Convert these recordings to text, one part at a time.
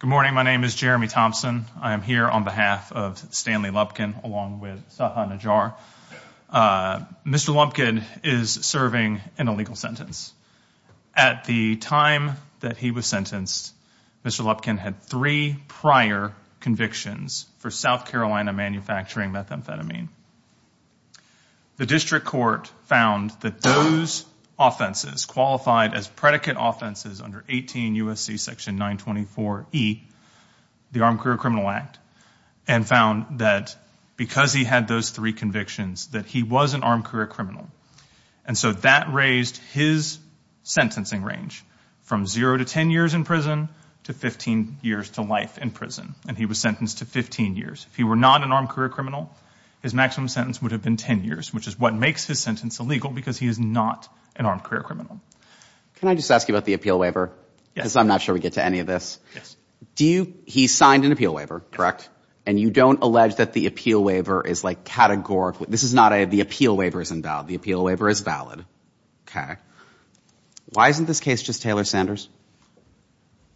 Good morning. My name is Jeremy Thompson. I am here on behalf of Stanley Lubkin along with Saha Najjar. Mr. Lubkin is serving an illegal sentence. At the time that he was sentenced, Mr. Lubkin had three prior convictions for South Carolina manufacturing methamphetamine. The district court found that those offenses qualified as predicate offenses under 18 U.S.C. Section 924E, the Armed Career Criminal Act, and found that because he had those three convictions that he was an armed career criminal. And so that raised his sentencing range from zero to 10 years in prison to 15 years to life in prison, and he was sentenced to 15 years. If he were not an armed career criminal, his maximum sentence would have been 10 years, which is what makes his sentence illegal because he is not an armed career criminal. Can I just ask you about the appeal waiver? Yes. I'm not sure we get to any of this. Yes. Do you, he signed an appeal waiver, correct? And you don't allege that the appeal waiver is like categorical. This is not a, the appeal waiver is invalid. The appeal waiver is valid. Okay. Why isn't this case just Taylor-Sanders?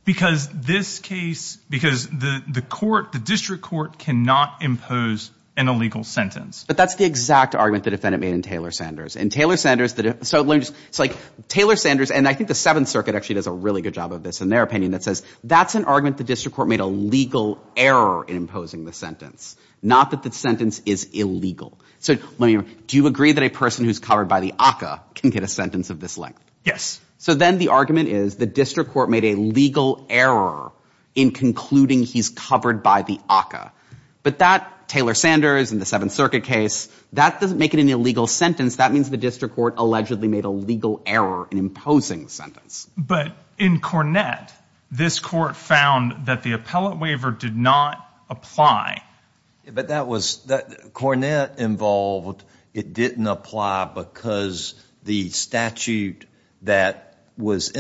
Because this case, because the court, the district court cannot impose an illegal sentence. But that's the exact argument the defendant made in Taylor-Sanders. And Taylor-Sanders, the, so let me just, it's like Taylor-Sanders, and I think the Seventh Circuit actually does a really good job of this in their opinion, that says that's an argument the district court made a legal error in imposing the sentence, not that the sentence is illegal. So let me, do you agree that a person who's covered by the ACCA can get a sentence of this length? Yes. So then the argument is the district court made a legal error in concluding he's covered by the ACCA. But that Taylor-Sanders and the Seventh Circuit case, that doesn't make it an illegal sentence. That means the district court allegedly made a legal error in imposing the sentence. But in Cornett, this court found that the appellate waiver did not apply. But that was, Cornett involved, it didn't apply because the statute that was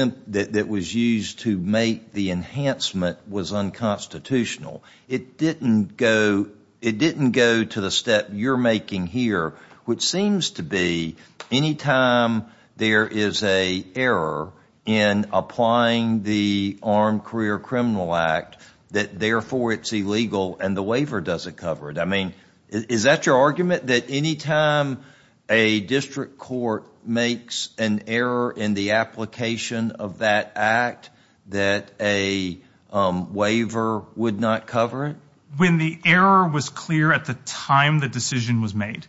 used to make the enhancement was unconstitutional. It didn't go, it didn't go to the step you're making here, which seems to be any time there is a error in applying the Armed Career Criminal Act, that therefore it's illegal and the waiver doesn't cover it. I mean, is that your argument, that any time a district court makes an error in the application of that act, that a waiver would not cover it? When the error was clear at the time the decision was made.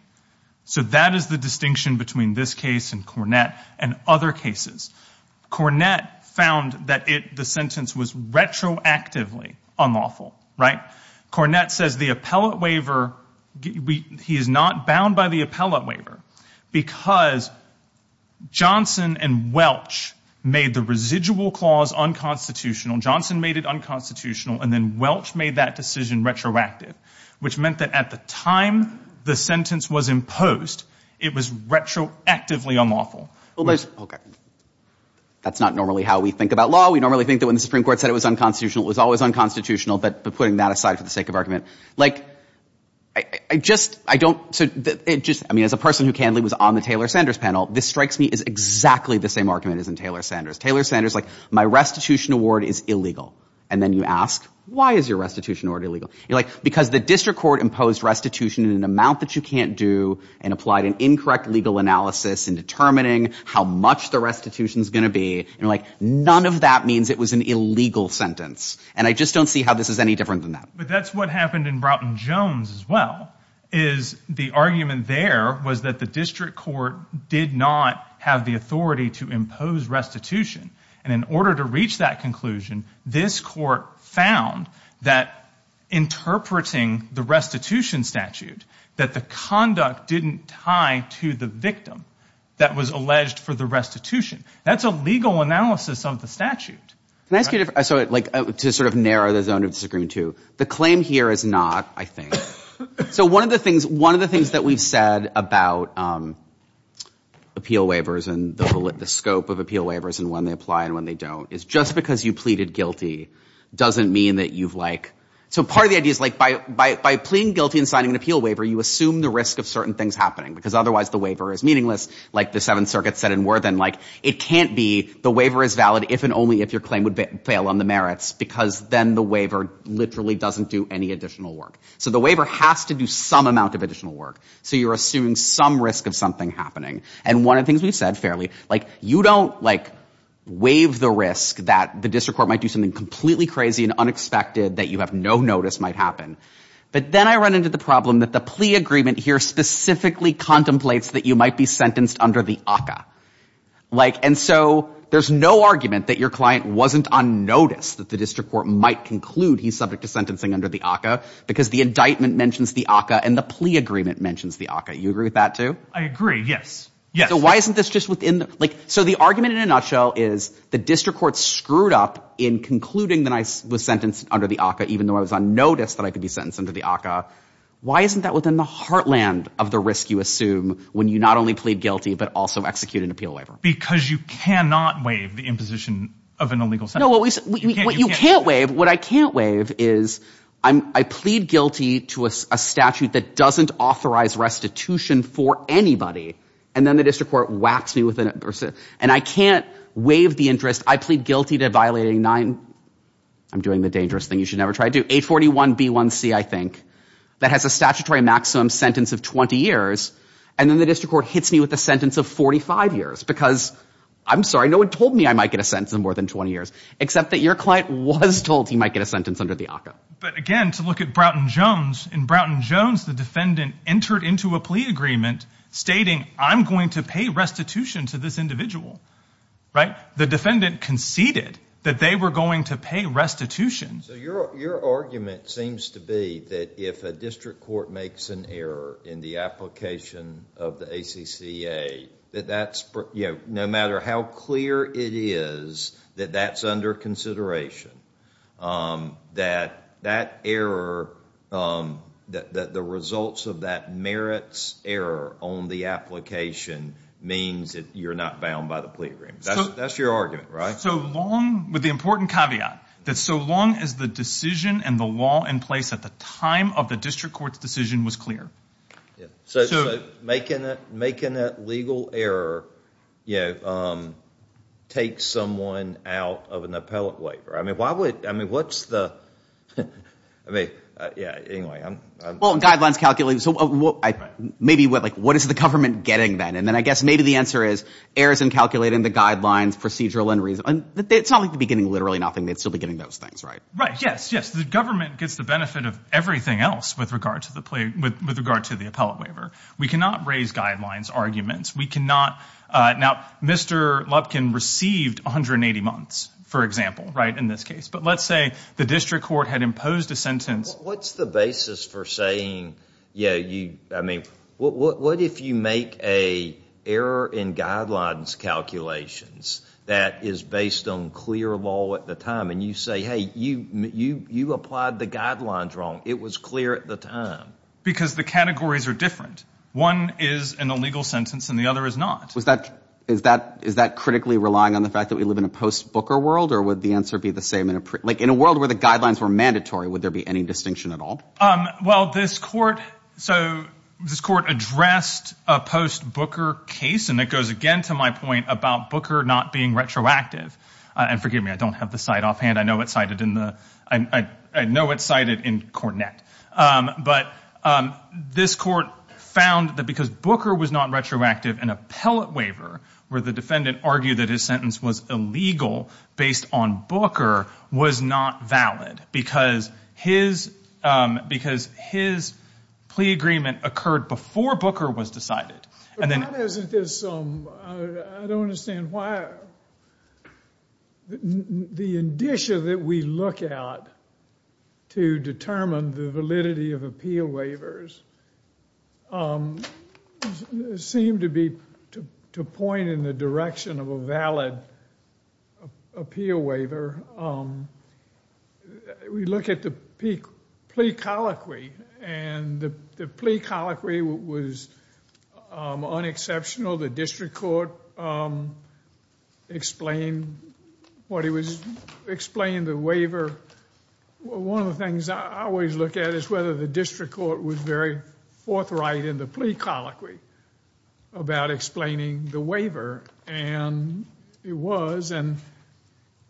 So that is the distinction between this case and Cornett and other cases. Cornett found that the sentence was retroactively unlawful, right? Cornett says the appellate waiver, he is not bound by the appellate waiver because Johnson and Welch made the residual clause unconstitutional, Johnson made it unconstitutional, and then Welch made that decision retroactive, which meant that at the time the sentence was imposed, it was retroactively unlawful. That's not normally how we think about law. We normally think that when the Supreme Court said it was unconstitutional, it was always unconstitutional. But putting that aside for the sake of argument, like, I just, I don't, it just, I mean, as a person who candidly was on the Taylor-Sanders panel, this strikes me as exactly the same argument as in Taylor-Sanders. Taylor-Sanders, like, my restitution award is illegal. And then you ask, why is your restitution award illegal? You're like, because the district court imposed restitution in an amount that you can't do and applied an incorrect legal analysis in determining how much the restitution is going to be, and you're like, none of that means it was an illegal sentence. And I just don't see how this is any different than that. But that's what happened in Broughton-Jones as well, is the argument there was that the district court did not have the authority to impose restitution. And in order to reach that conclusion, this court found that interpreting the restitution statute, that the conduct didn't tie to the victim that was alleged for the restitution. That's a legal analysis of the statute. Can I ask you a different, so, like, to sort of narrow the zone of disagreement, too. The claim here is not, I think, so one of the things, one of the things that we've said about appeal waivers and the scope of appeal waivers and when they apply and when they don't is just because you pleaded guilty doesn't mean that you've, like, so part of the idea is, like, by pleading guilty and signing an appeal waiver, you assume the risk of certain things happening, because otherwise the waiver is meaningless, like the Seventh Circuit said in Worthen, like, it can't be the waiver is valid if and only if your claim would fail on the merits, because then the waiver literally doesn't do any additional work. So the waiver has to do some amount of additional work. So you're assuming some risk of something happening. And one of the things we've said fairly, like, you don't, like, waive the risk that the district court might do something completely crazy and unexpected that you have no notice might happen. But then I run into the problem that the plea agreement here specifically contemplates that you might be sentenced under the ACCA, like, and so there's no argument that your client wasn't on notice that the district court might conclude he's subject to sentencing under the ACCA, because the indictment mentions the ACCA and the plea agreement mentions the You agree with that, too? I agree. Yes. Yes. So why isn't this just within, like, so the argument in a nutshell is the district court screwed up in concluding that I was sentenced under the ACCA, even though I was on notice that I could be sentenced under the ACCA. Why isn't that within the heartland of the risk you assume when you not only plead guilty, but also execute an appeal waiver? Because you cannot waive the imposition of an illegal sentence. No, you can't waive. What I can't waive is I plead guilty to a statute that doesn't authorize restitution for anybody. And then the district court whacks me with an, and I can't waive the interest. I plead guilty to violating nine. I'm doing the dangerous thing you should never try to do. I plead guilty to a 41B1C, I think, that has a statutory maximum sentence of 20 years. And then the district court hits me with a sentence of 45 years, because I'm sorry, no one told me I might get a sentence of more than 20 years, except that your client was told he might get a sentence under the ACCA. But again, to look at Broughton Jones, in Broughton Jones, the defendant entered into a plea agreement stating, I'm going to pay restitution to this individual, right? The defendant conceded that they were going to pay restitution. So your argument seems to be that if a district court makes an error in the application of the ACCA, that that's, you know, no matter how clear it is that that's under consideration, that that error, that the results of that merits error on the application means that you're not bound by the plea agreement. That's your argument, right? So long, with the important caveat, that so long as the decision and the law in place at the time of the district court's decision was clear. So making a legal error, you know, takes someone out of an appellate waiver. I mean, why would, I mean, what's the, I mean, yeah, anyway. Well, guidelines calculate, so maybe what, like, what is the government getting then? And then I guess maybe the answer is errors in calculating the guidelines, procedural and reasonable. It's not like they'd be getting literally nothing. They'd still be getting those things, right? Right. Yes, yes. The government gets the benefit of everything else with regard to the plea, with regard to the appellate waiver. We cannot raise guidelines arguments. We cannot, now, Mr. Lupkin received 180 months, for example, right, in this case. But let's say the district court had imposed a sentence. What's the basis for saying, yeah, you, I mean, what if you make a error in guidelines calculations that is based on clear law at the time and you say, hey, you, you, you applied the guidelines wrong. It was clear at the time. Because the categories are different. One is an illegal sentence and the other is not. Was that, is that, is that critically relying on the fact that we live in a post-Booker world or would the answer be the same in a, like, in a world where the guidelines were mandatory, would there be any distinction at all? Well, this court, so this court addressed a post-Booker case, and it goes again to my point about Booker not being retroactive. And forgive me, I don't have the site offhand. I know it's cited in the, I know it's cited in Cornett. But this court found that because Booker was not retroactive, an appellate waiver, where the defendant argued that his sentence was illegal based on Booker, was not valid. Because his, because his plea agreement occurred before Booker was decided. And then... But why doesn't this, I don't understand why, the indicia that we look at to determine the validity of appeal waivers seem to be, to point in the direction of a valid appeal waiver. We look at the plea colloquy, and the plea colloquy was unexceptional. The district court explained what it was, explained the waiver. One of the things I always look at is whether the district court was very forthright in the plea colloquy about explaining the waiver. And it was, and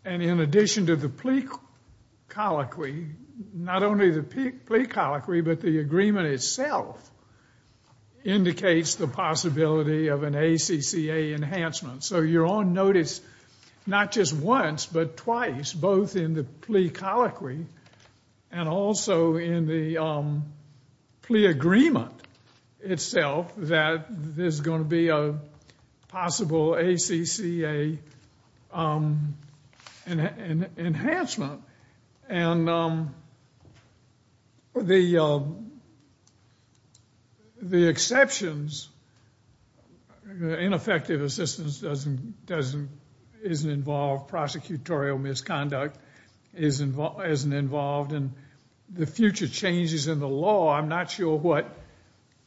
in addition to the plea colloquy, not only the plea colloquy, but the agreement itself indicates the possibility of an ACCA enhancement. So you're on notice, not just once, but twice, both in the plea colloquy and also in the plea agreement itself, that there's going to be a possible ACCA enhancement. And the exceptions, ineffective assistance doesn't, isn't involved, prosecutorial misconduct isn't involved, and the future changes in the law, I'm not sure what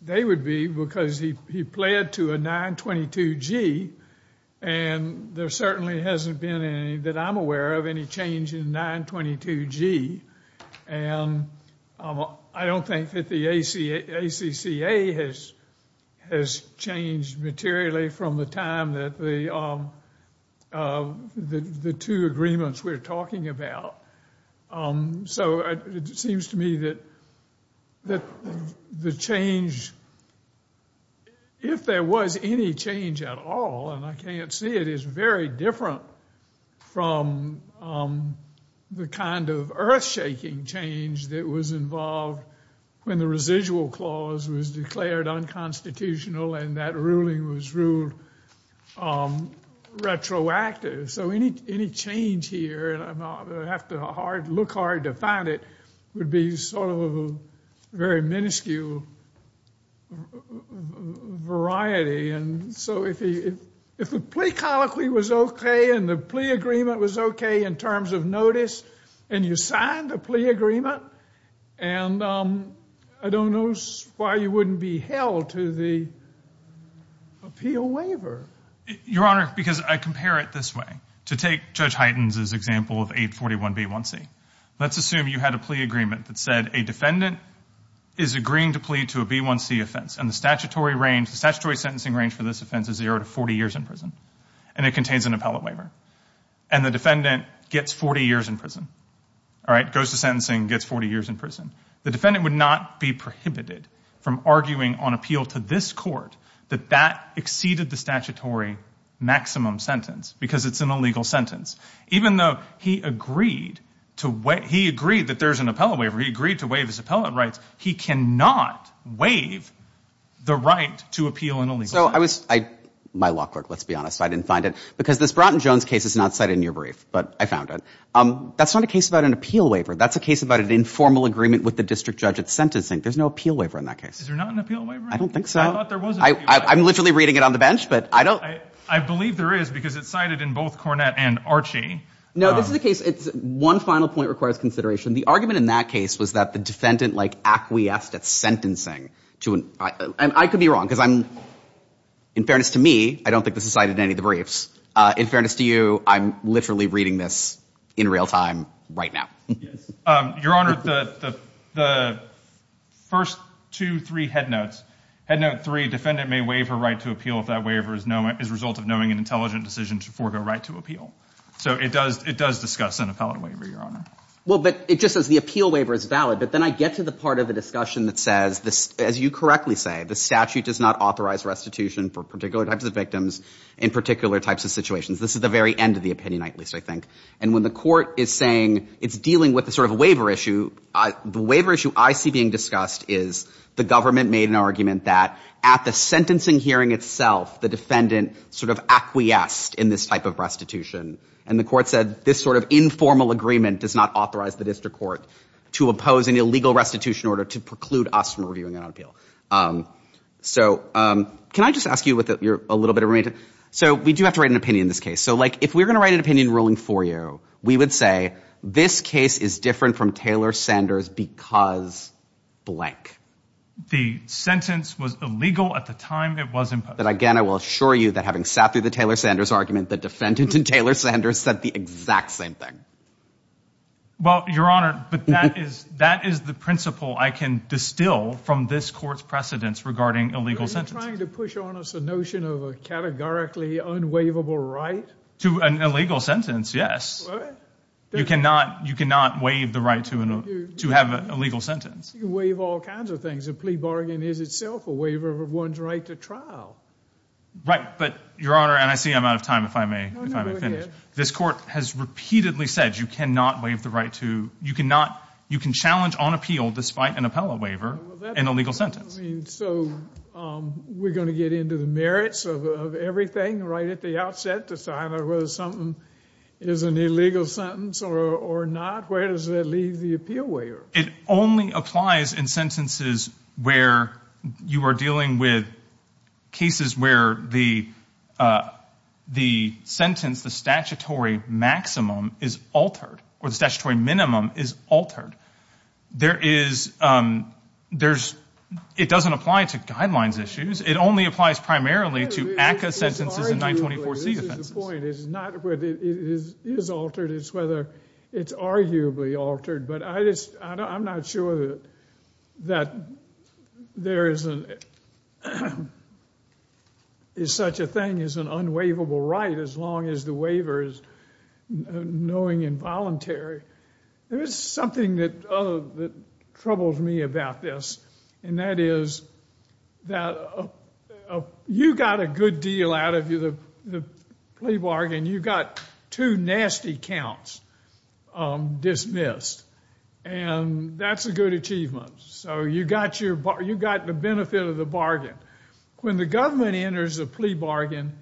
they would be, because he pled to a 922G, and there certainly hasn't been any that I'm aware of any change in 922G, and I don't think that the ACCA has changed materially from the time that the two agreements we're talking about. So it seems to me that the change, if there was any change at all, and I can't see it, is very different from the kind of earth-shaking change that was involved when the residual clause was declared unconstitutional and that ruling was ruled retroactive. So any change here, and I have to look hard to find it, would be sort of a very minuscule variety, and so if the plea colloquy was okay and the plea agreement was okay in terms of notice, and you signed a plea agreement, and I don't know why you wouldn't be held to the appeal waiver. Your Honor, because I compare it this way. To take Judge Hyten's example of 841B1C, let's assume you had a plea agreement that said a defendant is agreeing to plead to a B1C offense, and the statutory range, the statutory sentencing range for this offense is zero to 40 years in prison, and it contains an appellate waiver. And the defendant gets 40 years in prison, all right, goes to sentencing, gets 40 years in prison. The defendant would not be prohibited from arguing on appeal to this court that that exceeded the statutory maximum sentence, because it's an illegal sentence. Even though he agreed that there's an appellate waiver, he agreed to waive his appellate rights, he cannot waive the right to appeal an illegal sentence. So I was, my law clerk, let's be honest, I didn't find it, because this Broughton Jones case is not cited in your brief, but I found it. That's not a case about an appeal waiver. That's a case about an informal agreement with the district judge at sentencing. There's no appeal waiver in that case. Is there not an appeal waiver? I don't think so. I thought there was an appeal waiver. I'm literally reading it on the bench, but I don't. I believe there is, because it's cited in both Cornett and Archie. No, this is a case, it's, one final point requires consideration. The argument in that case was that the defendant, like, acquiesced at sentencing to an, I could be wrong, because I'm, in fairness to me, I don't think this is cited in any of the briefs. In fairness to you, I'm literally reading this in real time right now. Yes. Your Honor, the first two, three head notes, head note three, defendant may waive her right to appeal if that waiver is known, is a result of knowing an intelligent decision to forego right to appeal. So it does, it does discuss an appellate waiver, Your Honor. Well, but it just says the appeal waiver is valid, but then I get to the part of the discussion that says this, as you correctly say, the statute does not authorize restitution for particular types of victims in particular types of situations. This is the very end of the opinion, at least I think. And when the court is saying it's dealing with the sort of waiver issue, the waiver issue I see being discussed is the government made an argument that at the sentencing hearing itself the defendant sort of acquiesced in this type of restitution. And the court said this sort of informal agreement does not authorize the district court to oppose an illegal restitution order to preclude us from reviewing it on appeal. So can I just ask you with your, a little bit of remainder? So we do have to write an opinion in this case. So like, if we're going to write an opinion ruling for you, we would say this case is different from Taylor Sanders because blank. The sentence was illegal at the time it was imposed. But again, I will assure you that having sat through the Taylor Sanders argument, the defendant in Taylor Sanders said the exact same thing. Well, your honor, but that is, that is the principle I can distill from this court's precedents regarding illegal sentences. Are you trying to push on us a notion of a categorically unwaivable right? To an illegal sentence, yes. You cannot, you cannot waive the right to an, to have an illegal sentence. You can waive all kinds of things. A plea bargain is itself a waiver of one's right to trial. Right. But your honor, and I see I'm out of time. If I may, if I may finish, this court has repeatedly said, you cannot waive the right to, you cannot, you can challenge on appeal despite an appellate waiver, an illegal sentence. I mean, so, um, we're going to get into the merits of everything right at the outset to decide whether something is an illegal sentence or, or not. Where does that leave the appeal waiver? It only applies in sentences where you are dealing with cases where the, uh, the sentence, the statutory maximum is altered or the statutory minimum is altered. There is, um, there's, it doesn't apply to guidelines issues. It only applies primarily to ACCA sentences and 924C offenses. This is the point. It's not whether it is altered. It's whether it's arguably altered, but I just, I'm not sure that there is such a thing as an unwaivable right, as long as the waiver is knowing involuntary. There is something that troubles me about this. And that is that you got a good deal out of the plea bargain. You got two nasty counts, um, dismissed and that's a good achievement. So you got your, you got the benefit of the bargain. When the government enters a plea bargain,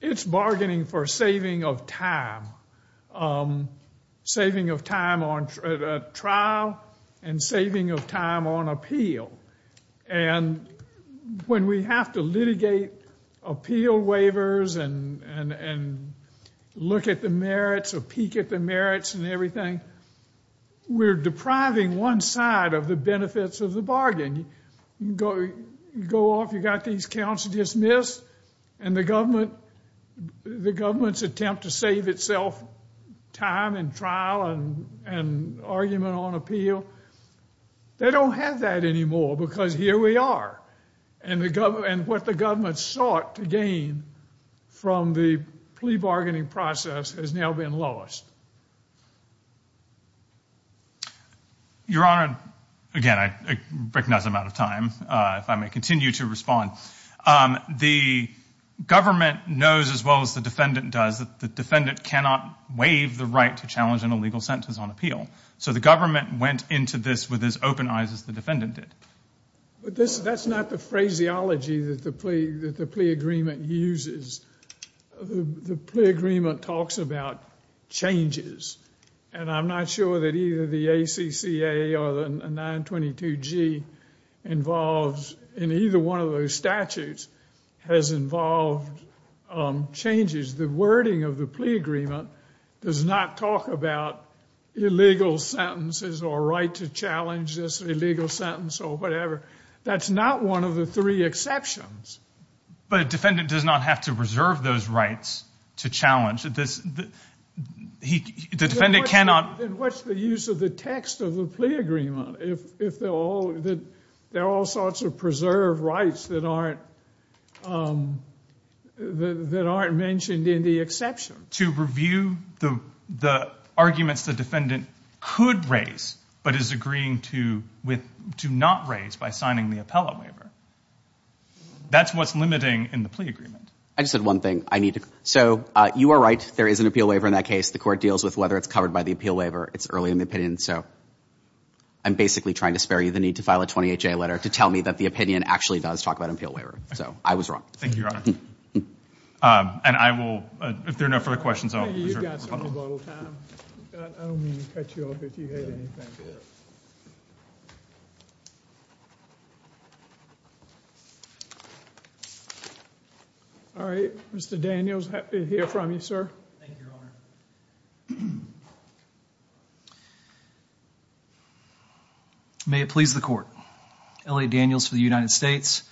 it's bargaining for saving of time, um, saving of time on trial and saving of time on appeal. And when we have to litigate appeal waivers and, and, and look at the merits or peek at the merits and everything, we're depriving one side of the benefits of the bargain. You go, go off, you got these counts dismissed and the government, the government's attempt to save itself time and trial and, and argument on appeal. They don't have that anymore because here we are and the government and what the government sought to gain from the plea bargaining process has now been lost. Your Honor, again, I recognize I'm out of time. Uh, if I may continue to respond, um, the government knows as well as the defendant does that the defendant cannot waive the right to challenge an illegal sentence on appeal. So the government went into this with as open eyes as the defendant did. But this, that's not the phraseology that the plea, that the plea agreement uses. The plea agreement talks about changes and I'm not sure that either the ACCA or the 922G involves in either one of those statutes has involved, um, changes. The wording of the plea agreement does not talk about illegal sentences or right to challenge this illegal sentence or whatever. That's not one of the three exceptions. But a defendant does not have to reserve those rights to challenge this. He, the defendant cannot. Then what's the use of the text of the plea agreement? If, if they're all, there are all sorts of preserved rights that aren't, um, that aren't mentioned in the exception. To review the, the arguments the defendant could raise, but is agreeing to with, do not raise by signing the appellate waiver. That's what's limiting in the plea agreement. I just had one thing I need to, so, uh, you are right. There is an appeal waiver in that case. The court deals with whether it's covered by the appeal waiver. It's early in the opinion. So I'm basically trying to spare you the need to file a 28-J letter to tell me that the opinion actually does talk about an appeal waiver. So I was wrong. Thank you, Your Honor. Um, and I will, uh, if there are no further questions, I'll reserve the rebuttal. You've got some rebuttal time. I don't mean to cut you off if you hate anything. All right. Mr. Daniels, happy to hear from you, sir. May it please the court. Elliot Daniels for the United States.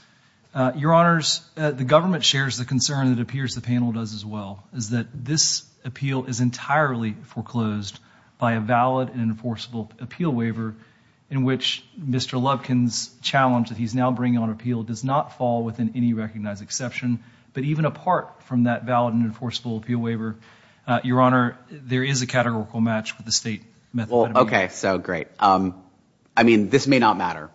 Uh, Your Honors, uh, the government shares the concern that appears the panel does as well, is that this appeal is entirely foreclosed by a valid and enforceable appeal waiver in which Mr. Lubkin's challenge that he's now bringing on appeal does not fall within any recognized exception, but even apart from that valid and enforceable appeal waiver, uh, Your Honor, there is a categorical match with the state method. Well, okay. So great. Um, I mean, this may not matter.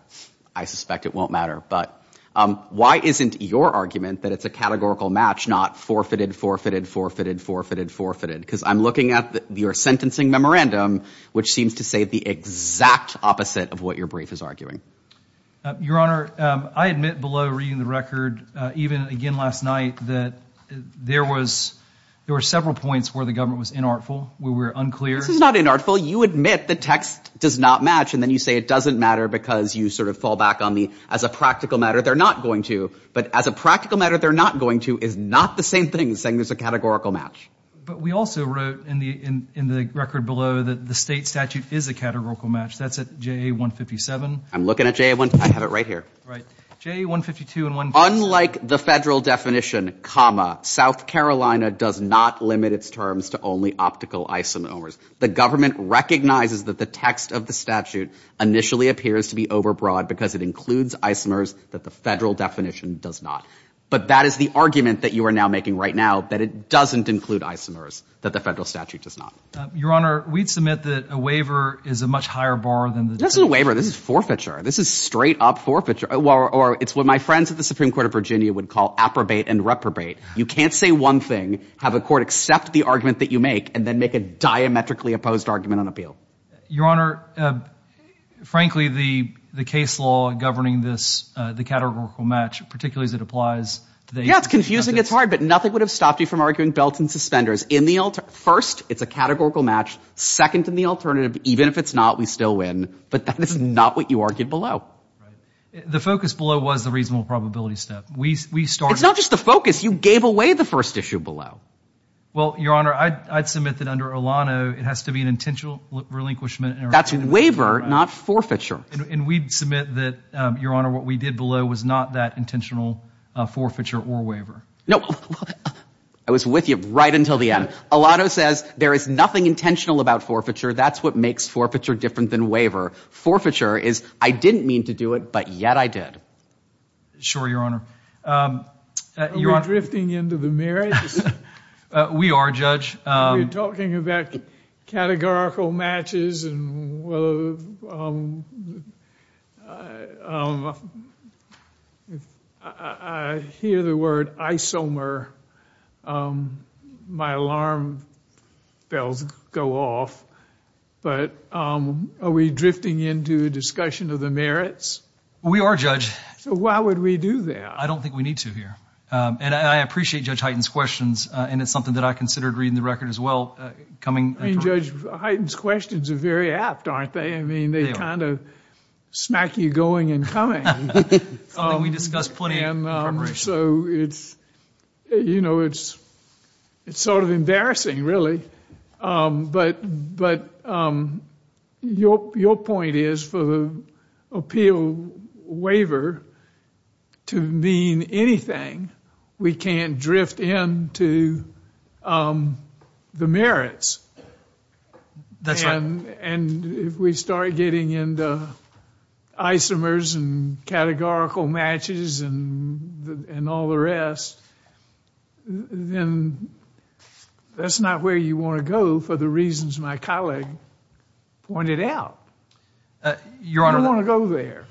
I suspect it won't matter, but, um, why isn't your argument that it's a categorical match, not forfeited, forfeited, forfeited, forfeited, forfeited, because I'm looking at the, your sentencing memorandum, which seems to say the exact opposite of what your brief is arguing. Uh, Your Honor, um, I admit below reading the record, uh, even again, last night that there was, there were several points where the government was inartful, where we're unclear. This is not inartful. You admit the text does not match. And then you say, it doesn't matter because you sort of fall back on the, as a practical matter, they're not going to, but as a practical matter, they're not going to, is not the same thing as saying there's a categorical match. But we also wrote in the, in, in the record below that the state statute is a categorical match. That's at JA 157. I'm looking at JA 157. I have it right here. Right. JA 152 and 157. Unlike the federal definition, comma, South Carolina does not limit its terms to only optical isomers. The government recognizes that the text of the statute initially appears to be overbroad because it includes isomers that the federal definition does not, but that is the argument that you are now making right now, that it doesn't include isomers that the federal statute does not. Your Honor, we'd submit that a waiver is a much higher bar than the waiver. This is forfeiture. This is straight up forfeiture or it's what my friends at the Supreme Court of Virginia would call approbate and reprobate. You can't say one thing, have a court accept the argument that you make, and then make a diametrically opposed argument on appeal. Your Honor, frankly, the, the case law governing this, the categorical match, particularly as it applies. Yeah, it's confusing. It's hard, but nothing would have stopped you from arguing belts and suspenders in the alter. First, it's a categorical match. Second, in the alternative, even if it's not, we still win, but that is not what you argued below. The focus below was the reasonable probability step. We, we started. It's not just the focus. You gave away the first issue below. Well, Your Honor, I, I'd submit that under Olano, it has to be an intentional relinquishment. That's waiver, not forfeiture. And we submit that, Your Honor, what we did below was not that intentional forfeiture or waiver. No, I was with you right until the end. Olano says there is nothing intentional about forfeiture. That's what makes forfeiture different than waiver. Forfeiture is I didn't mean to do it, but yet I did. Sure. Your Honor. Are we drifting into the merits? We are, Judge. You're talking about categorical matches and I hear the word isomer. My alarm bells go off, but are we drifting into a discussion of the merits? We are, Judge. So why would we do that? I don't think we need to here. And I appreciate Judge Hyten's questions. And it's something that I considered reading the record as well. I mean, Judge, Hyten's questions are very apt, aren't they? I mean, they kind of smack you going and coming. Something we discussed plenty in preparation. So it's, you know, it's, it's sort of embarrassing really. But, but your, your point is for the appeal waiver to mean anything, we can't drift into the merits. And if we start getting into isomers and categorical matches and all the rest, then that's not where you want to go for the reasons my colleague pointed out. Your Honor. I don't want to go there.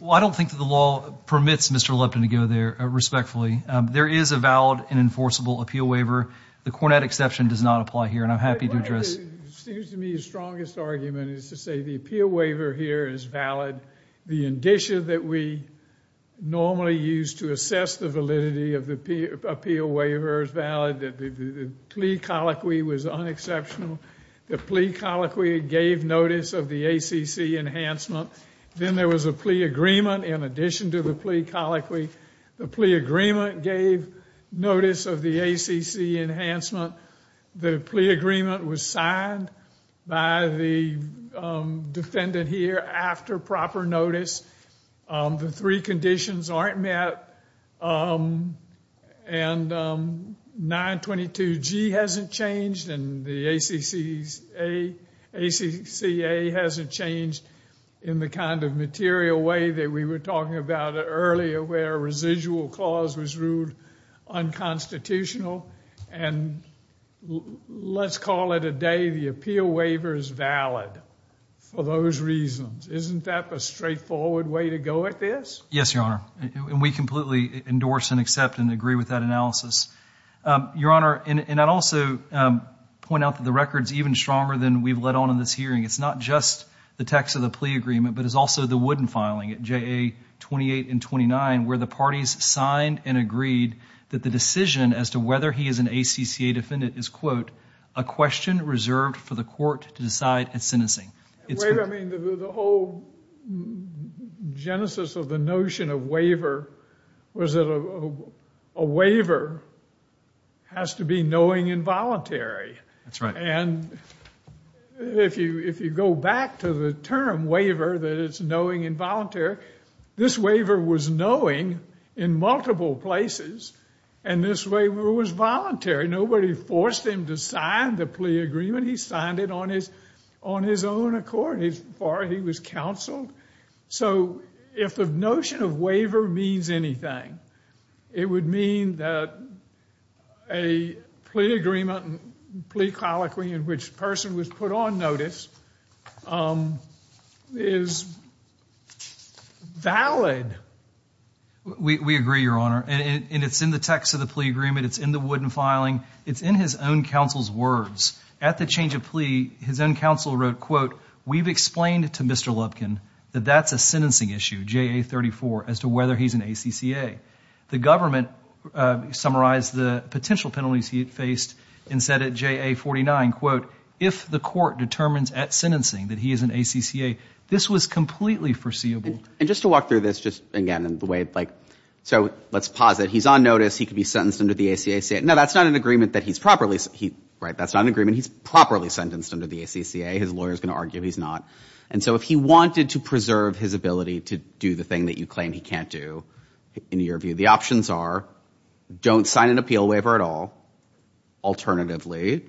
Well, I don't think that the law permits Mr. Lupton to go there respectfully. There is a valid and enforceable appeal waiver. The Cornett exception does not apply here. And I'm happy to address. It seems to me the strongest argument is to say the appeal waiver here is valid. The indicia that we normally use to assess the validity of the appeal waiver is valid. That the plea colloquy was unexceptional. The plea colloquy gave notice of the ACC enhancement. Then there was a plea agreement in addition to the plea colloquy. The plea agreement gave notice of the ACC enhancement. The plea agreement was signed by the defendant here after proper notice. The three conditions aren't met. And 922G hasn't changed. And the ACCA hasn't changed in the kind of material way that we were talking about earlier where a residual clause was ruled unconstitutional. And let's call it a day. The appeal waiver is valid for those reasons. Isn't that a straightforward way to go at this? Yes, Your Honor. And we completely endorse and accept and agree with that analysis. Your Honor, and I'd also point out that the record's even stronger than we've let on in this hearing. It's not just the text of the plea agreement, but it's also the wooden filing at JA 28 and 29 where the parties signed and agreed that the decision as to whether he is an ACCA defendant is, quote, a question reserved for the court to decide at sentencing. Waiver, I mean, the whole genesis of the notion of waiver was that a waiver has to be knowing and voluntary. That's right. And if you go back to the term waiver, that it's knowing and voluntary, this waiver was knowing in multiple places. And this waiver was voluntary. Nobody forced him to sign the plea agreement. He signed it on his own accord, as far as he was counseled. So if the notion of waiver means anything, it would mean that a plea agreement and plea colloquy in which the person was put on notice is valid. We agree, Your Honor. And it's in the text of the plea agreement. It's in the wooden filing. It's in his own counsel's words. At the change of plea, his own counsel wrote, quote, we've explained to Mr. Lubkin that that's a sentencing issue, JA 34, as to whether he's an ACCA. The government summarized the potential penalties he had faced and said at JA 49, quote, if the court determines at sentencing that he is an ACCA, this was completely foreseeable. And just to walk through this, just again, in the way, like, so let's pause it. He's on notice. He could be sentenced under the ACCA. No, that's not an agreement that he's properly, right? That's not an agreement he's properly sentenced under the ACCA. His lawyer's going to argue he's not. And so if he wanted to preserve his ability to do the thing that you claim he can't do in your view, the options are don't sign an appeal waiver at all. Alternatively,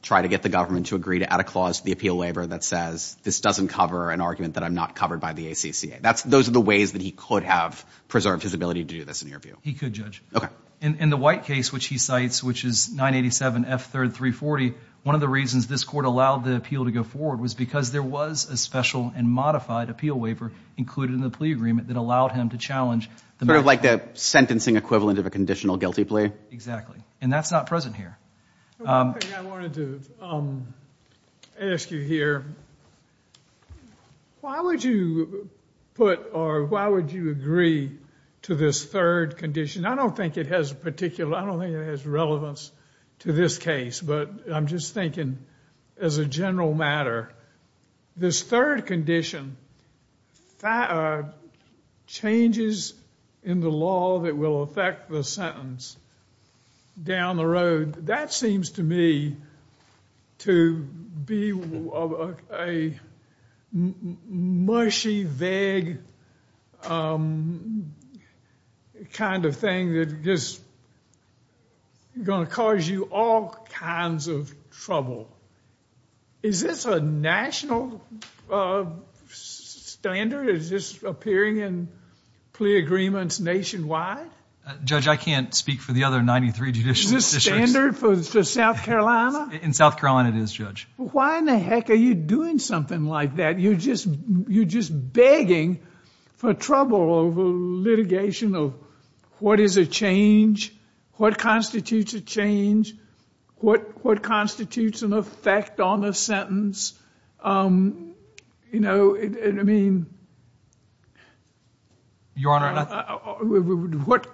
try to get the government to agree to add a clause to the appeal waiver that says this doesn't cover an argument that I'm not covered by the ACCA. That's, those are the ways that he could have preserved his ability to do this in your view. He could, Judge. Okay. In the White case, which he cites, which is 987 F 3rd 340, one of the reasons this court allowed the appeal to go forward was because there was a special and modified appeal waiver included in the plea agreement that allowed him to challenge the matter. Sort of like the sentencing equivalent of a conditional guilty plea? Exactly. And that's not present here. One thing I wanted to ask you here, why would you put or why would you agree to this third condition? I don't think it has particular, I don't think it has relevance to this case, but I'm just thinking as a general matter, this third condition changes in the law that will affect the sentence down the road. That seems to me to be a mushy, vague kind of thing that just going to cause you all kinds of trouble. Is this a national standard? Is this appearing in plea agreements nationwide? Judge, I can't speak for the other 93 judicial decisions. Is this a standard for South Carolina? In South Carolina it is, Judge. Why in the heck are you doing something like that? You're just, you're just begging for trouble over litigation of what is a change? What constitutes a change? What, what constitutes an effect on a sentence? You know, I mean, what,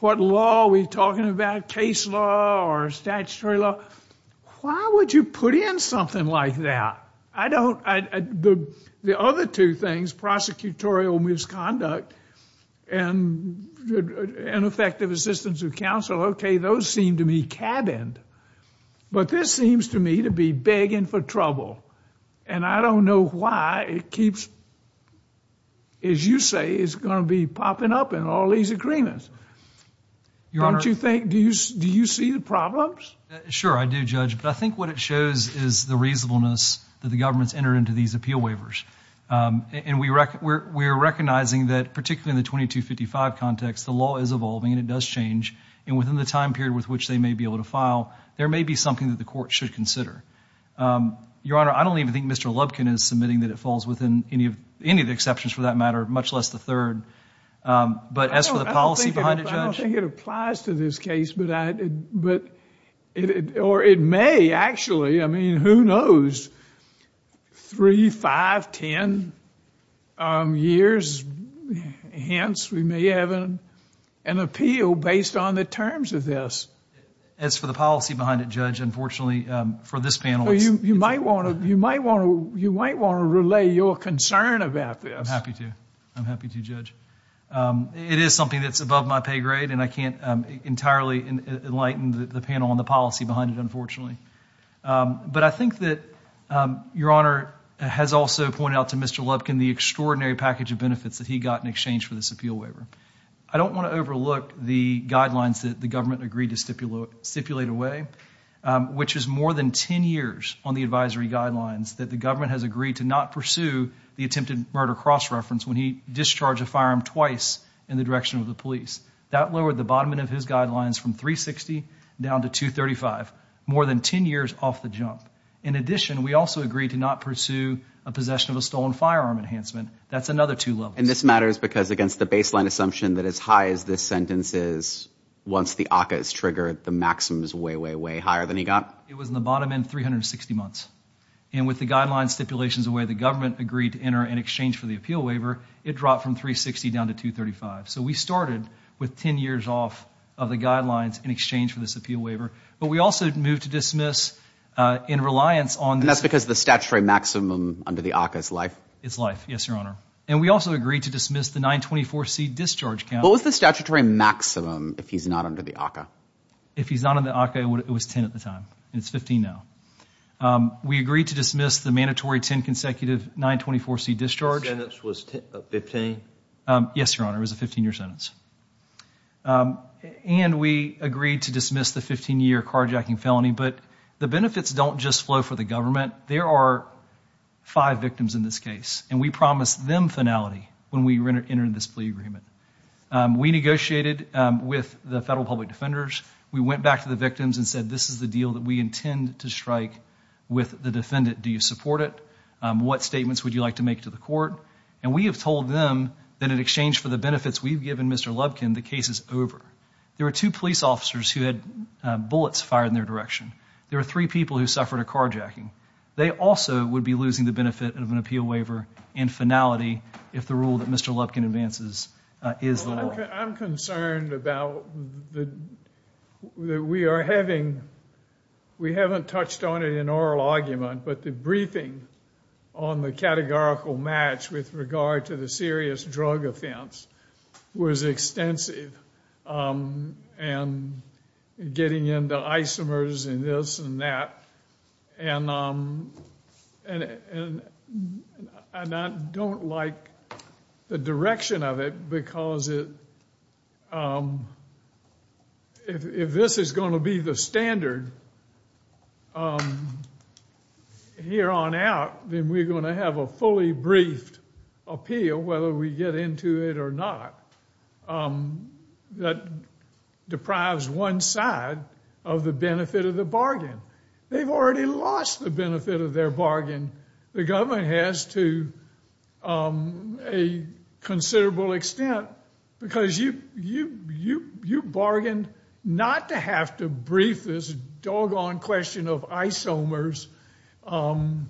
what law are we talking about? Case law or statutory law? Why would you put in something like that? I don't, I, the, the other two things, prosecutorial misconduct and ineffective assistance of counsel. Okay, those seem to be cabined, but this seems to me to be begging for trouble. And I don't know why it keeps, as you say, it's going to be popping up in all these agreements. Don't you think, do you, do you see the problems? Sure, I do, Judge. But I think what it shows is the reasonableness that the government's entered into these appeal waivers. And we rec, we're, we're recognizing that particularly in the 2255 context, the law is evolving and it does change. And within the time period with which they may be able to file, there may be something that the court should consider. Your Honor, I don't even think Mr. Lubkin is submitting that it falls within any of, any of the exceptions for that matter, much less the third. But as for the policy behind it, Judge? I don't think it applies to this case, but I, but it, or it may actually, I mean, who knows? Three, five, 10 years, hence we may have an, an appeal based on the terms of this. As for the policy behind it, Judge, unfortunately, for this panel, you might want to, you might want to, you might want to relay your concern about this. I'm happy to. I'm happy to, Judge. It is something that's above my pay grade and I can't entirely enlighten the panel on the policy behind it, unfortunately. But I think that, Your Honor has also pointed out to Mr. Lubkin, the extraordinary package of benefits that he got in exchange for this appeal waiver. I don't want to overlook the guidelines that the government agreed to stipulate, stipulate away, which is more than 10 years on the advisory guidelines that the government has agreed to not pursue the attempted murder cross-reference when he discharged a firearm twice in the direction of the police. That lowered the bottom end of his guidelines from 360 down to 235, more than 10 years off the jump. In addition, we also agreed to not pursue a possession of a stolen firearm enhancement. That's another two levels. And this matters because against the baseline assumption that as high as this sentence is, once the ACCA is triggered, the maximum is way, way, way higher than he got. It was in the bottom end, 360 months. And with the guidelines stipulations away, the government agreed to enter in exchange for the appeal waiver. It dropped from 360 down to 235. So we started with 10 years off of the guidelines in exchange for this appeal waiver. But we also moved to dismiss in reliance on. And that's because the statutory maximum under the ACCA is life. It's life. Yes, Your Honor. And we also agreed to dismiss the 924C discharge count. What was the statutory maximum if he's not under the ACCA? If he's not under the ACCA, it was 10 at the time and it's 15 now. We agreed to dismiss the mandatory 10 consecutive 924C discharge. The sentence was 15? Yes, Your Honor. It was a 15-year sentence. And we agreed to dismiss the 15-year carjacking felony. But the benefits don't just flow for the government. There are five victims in this case. And we promised them finality when we entered this plea agreement. We negotiated with the federal public defenders. We went back to the victims and said, this is the deal that we intend to strike with the defendant. Do you support it? What statements would you like to make to the court? And we have told them that in exchange for the benefits we've given Mr. Lubkin, the case is over. There were two police officers who had bullets fired in their direction. There were three people who suffered a carjacking. They also would be losing the benefit of an appeal waiver and finality if the rule that Mr. Lubkin advances is the law. I'm concerned about the, that we are having, we haven't touched on it in oral argument, but the briefing on the categorical match with regard to the serious drug offense was extensive and getting into isomers and this and that. And I don't like the direction of it because it, if this is going to be the standard here on out, then we're going to have a fully briefed appeal, whether we get into it or not, that deprives one side of the benefit of the bargain. They've already lost the benefit of their bargain. The government has to a considerable extent because you, you, you, you bargained not to have to brief this doggone question of isomers and,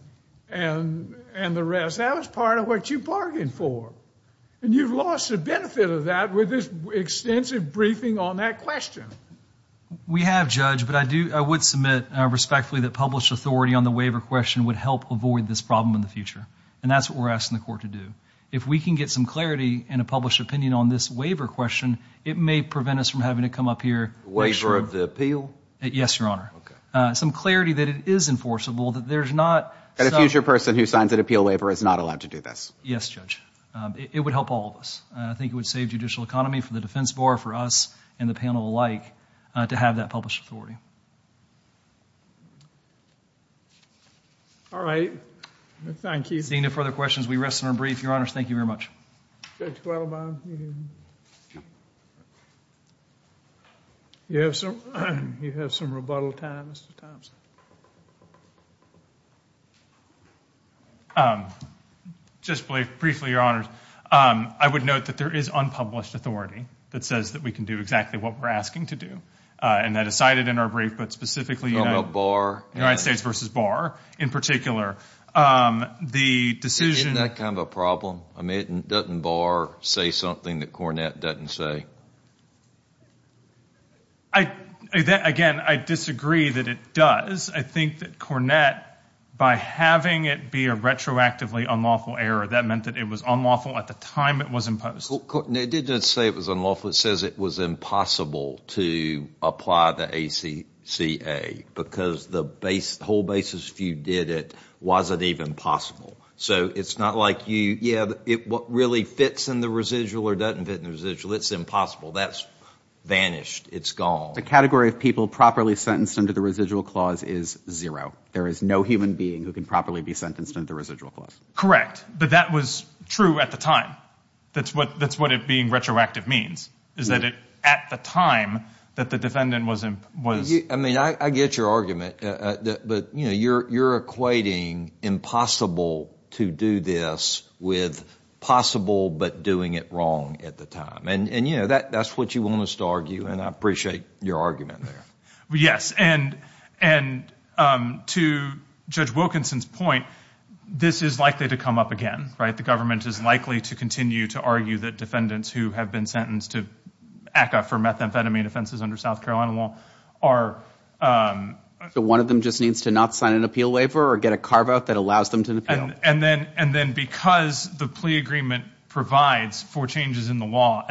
and the rest. That was part of what you bargained for. And you've lost the benefit of that with this extensive briefing on that question. We have judge, but I do, I would submit respectfully that published authority on the waiver question would help avoid this problem in the future. And that's what we're asking the court to do. If we can get some clarity in a published opinion on this waiver question, it may prevent us from having to come up here. Waiver of the appeal? Yes, Your Honor. Some clarity that it is enforceable, that there's not. And a future person who signs an appeal waiver is not allowed to do this. Yes, judge. It would help all of us. I think it would save judicial economy for the defense bar for us and the panel alike to have that published authority. All right. Thank you. Seeing no further questions, we rest in our brief. Your Honors. Thank you very much. You have some, you have some rebuttal time, Mr. Just briefly, Your Honors, I would note that there is unpublished authority that says that we can do exactly what we're asking to do. And that is cited in our brief, but specifically United States versus Barr, in particular, the decision. Isn't that kind of a problem? I mean, doesn't Barr say something that Cornett doesn't say? I, again, I disagree that it does. I think that Cornett, by having it be a retroactively unlawful error, that meant that it was unlawful at the time it was imposed. Well, it did just say it was unlawful. It says it was impossible to apply the ACCA because the whole basis if you did it, wasn't even possible. So it's not like you, yeah, it really fits in the residual or doesn't fit in the residual. It's impossible. That's vanished. It's gone. The category of people properly sentenced under the residual clause is zero. There is no human being who can properly be sentenced under residual clause. Correct. But that was true at the time. That's what, that's what it being retroactive means is that it, at the time that the defendant was, was, I mean, I get your argument, but you know, you're, you're equating impossible to do this with possible, but doing it wrong at the time and, and, you know, that that's what you want us to argue. And I appreciate your argument there. Well, yes. And, and, um, to judge Wilkinson's point, this is likely to come up again, right? The government is likely to continue to argue that defendants who have been sentenced to ACCA for methamphetamine offenses under South Carolina law are, um, So one of them just needs to not sign an appeal waiver or get a carve out that allows them to appeal. And then, and then because the plea agreement provides for changes in the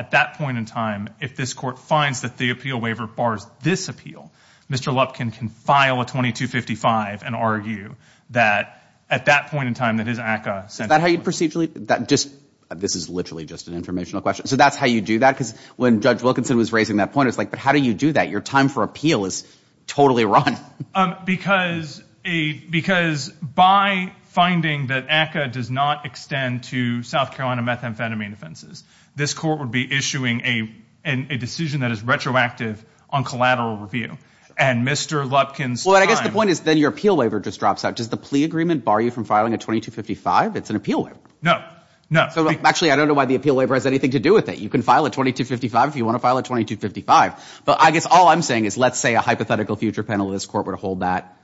time, if this court finds that the appeal waiver bars, this appeal, Mr. Lupkin can file a 2255 and argue that at that point in time that his ACCA. So that how you procedurally that just, this is literally just an informational question. So that's how you do that. Cause when judge Wilkinson was raising that point, it was like, but how do you do that? Your time for appeal is totally wrong. Um, because a, because by finding that ACCA does not extend to South Carolina methamphetamine offenses, this court would be issuing a, a decision that is retroactive on collateral review and Mr. Lupkin's. Well, I guess the point is then your appeal waiver just drops out. Does the plea agreement bar you from filing a 2255? It's an appeal. No, no. Actually, I don't know why the appeal waiver has anything to do with it. You can file a 2255 if you want to file a 2255, but I guess all I'm saying is let's say a hypothetical future panel of this court would hold that.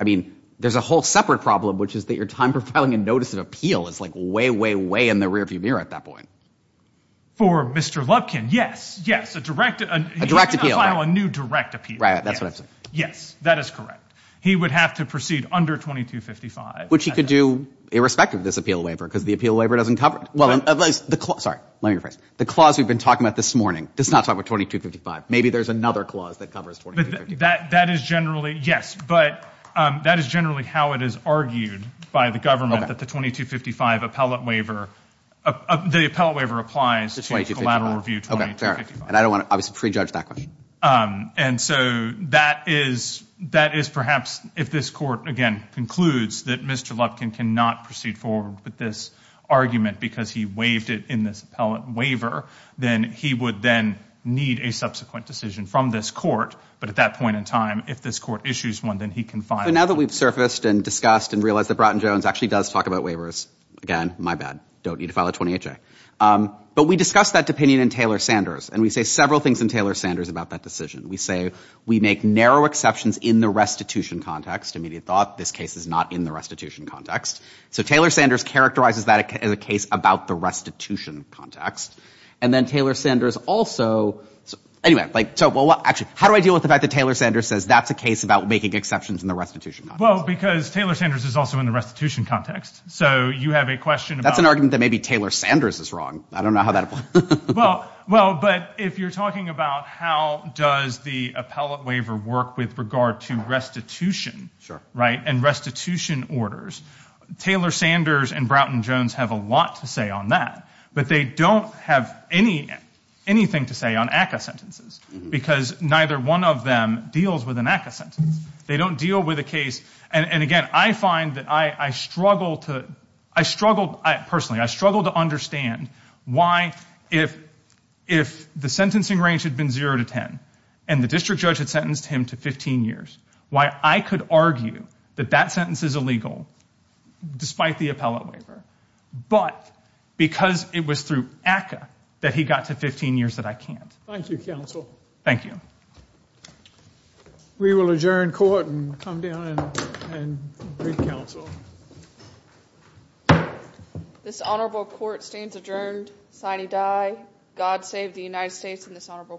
I mean, there's a whole separate problem, which is that your time for filing a notice of appeal is like way, way, way in the rear view mirror at that point. For Mr. Lupkin. Yes, yes. A direct, a direct appeal, a new direct appeal. Right. That's what I'm saying. Yes, that is correct. He would have to proceed under 2255, which he could do irrespective of this appeal waiver because the appeal waiver doesn't cover it. Well, at least the, sorry, let me rephrase the clause we've been talking about this morning does not talk about 2255. Maybe there's another clause that covers that. That is generally yes, but, um, that is generally how it is argued by the government that the 2255 appellate waiver, uh, the appellate waiver applies to a collateral review 2255. And I don't want to obviously prejudge that question. Um, and so that is, that is perhaps if this court again concludes that Mr. Lupkin cannot proceed forward with this argument because he waived it in this appellate waiver, then he would then need a subsequent decision from this court. But at that point in time, if this court issues one, then he can file it. So now that we've surfaced and discussed and realized that Bratton Jones actually does talk about waivers, again, my bad, don't need to file a 20HA. Um, but we discussed that opinion in Taylor-Sanders and we say several things in Taylor-Sanders about that decision. We say we make narrow exceptions in the restitution context, immediate thought. This case is not in the restitution context. So Taylor-Sanders characterizes that as a case about the restitution context. And then Taylor-Sanders also, so anyway, like, so well, actually, how do I deal with the fact that Taylor-Sanders says that's a case about making exceptions in the restitution context? Well, because Taylor-Sanders is also in the restitution context. So you have a question about... That's an argument that maybe Taylor-Sanders is wrong. I don't know how that applies. Well, well, but if you're talking about how does the appellate waiver work with regard to restitution, right? And restitution orders, Taylor-Sanders and Bratton-Jones have a lot to say on that, but they don't have any, anything to say on ACCA sentences because neither one of them deals with an ACCA sentence. They don't deal with a case. And again, I find that I struggle to, I struggled, personally, I struggled to understand why if, if the sentencing range had been zero to 10 and the district judge had sentenced him to 15 years, why I could argue that that sentence is illegal despite the appellate waiver, but because it was through ACCA that he got to 15 years that I can't. Thank you, counsel. Thank you. We will adjourn court and come down and read counsel. This honorable court stands adjourned. Signee die. God save the United States and this honorable court.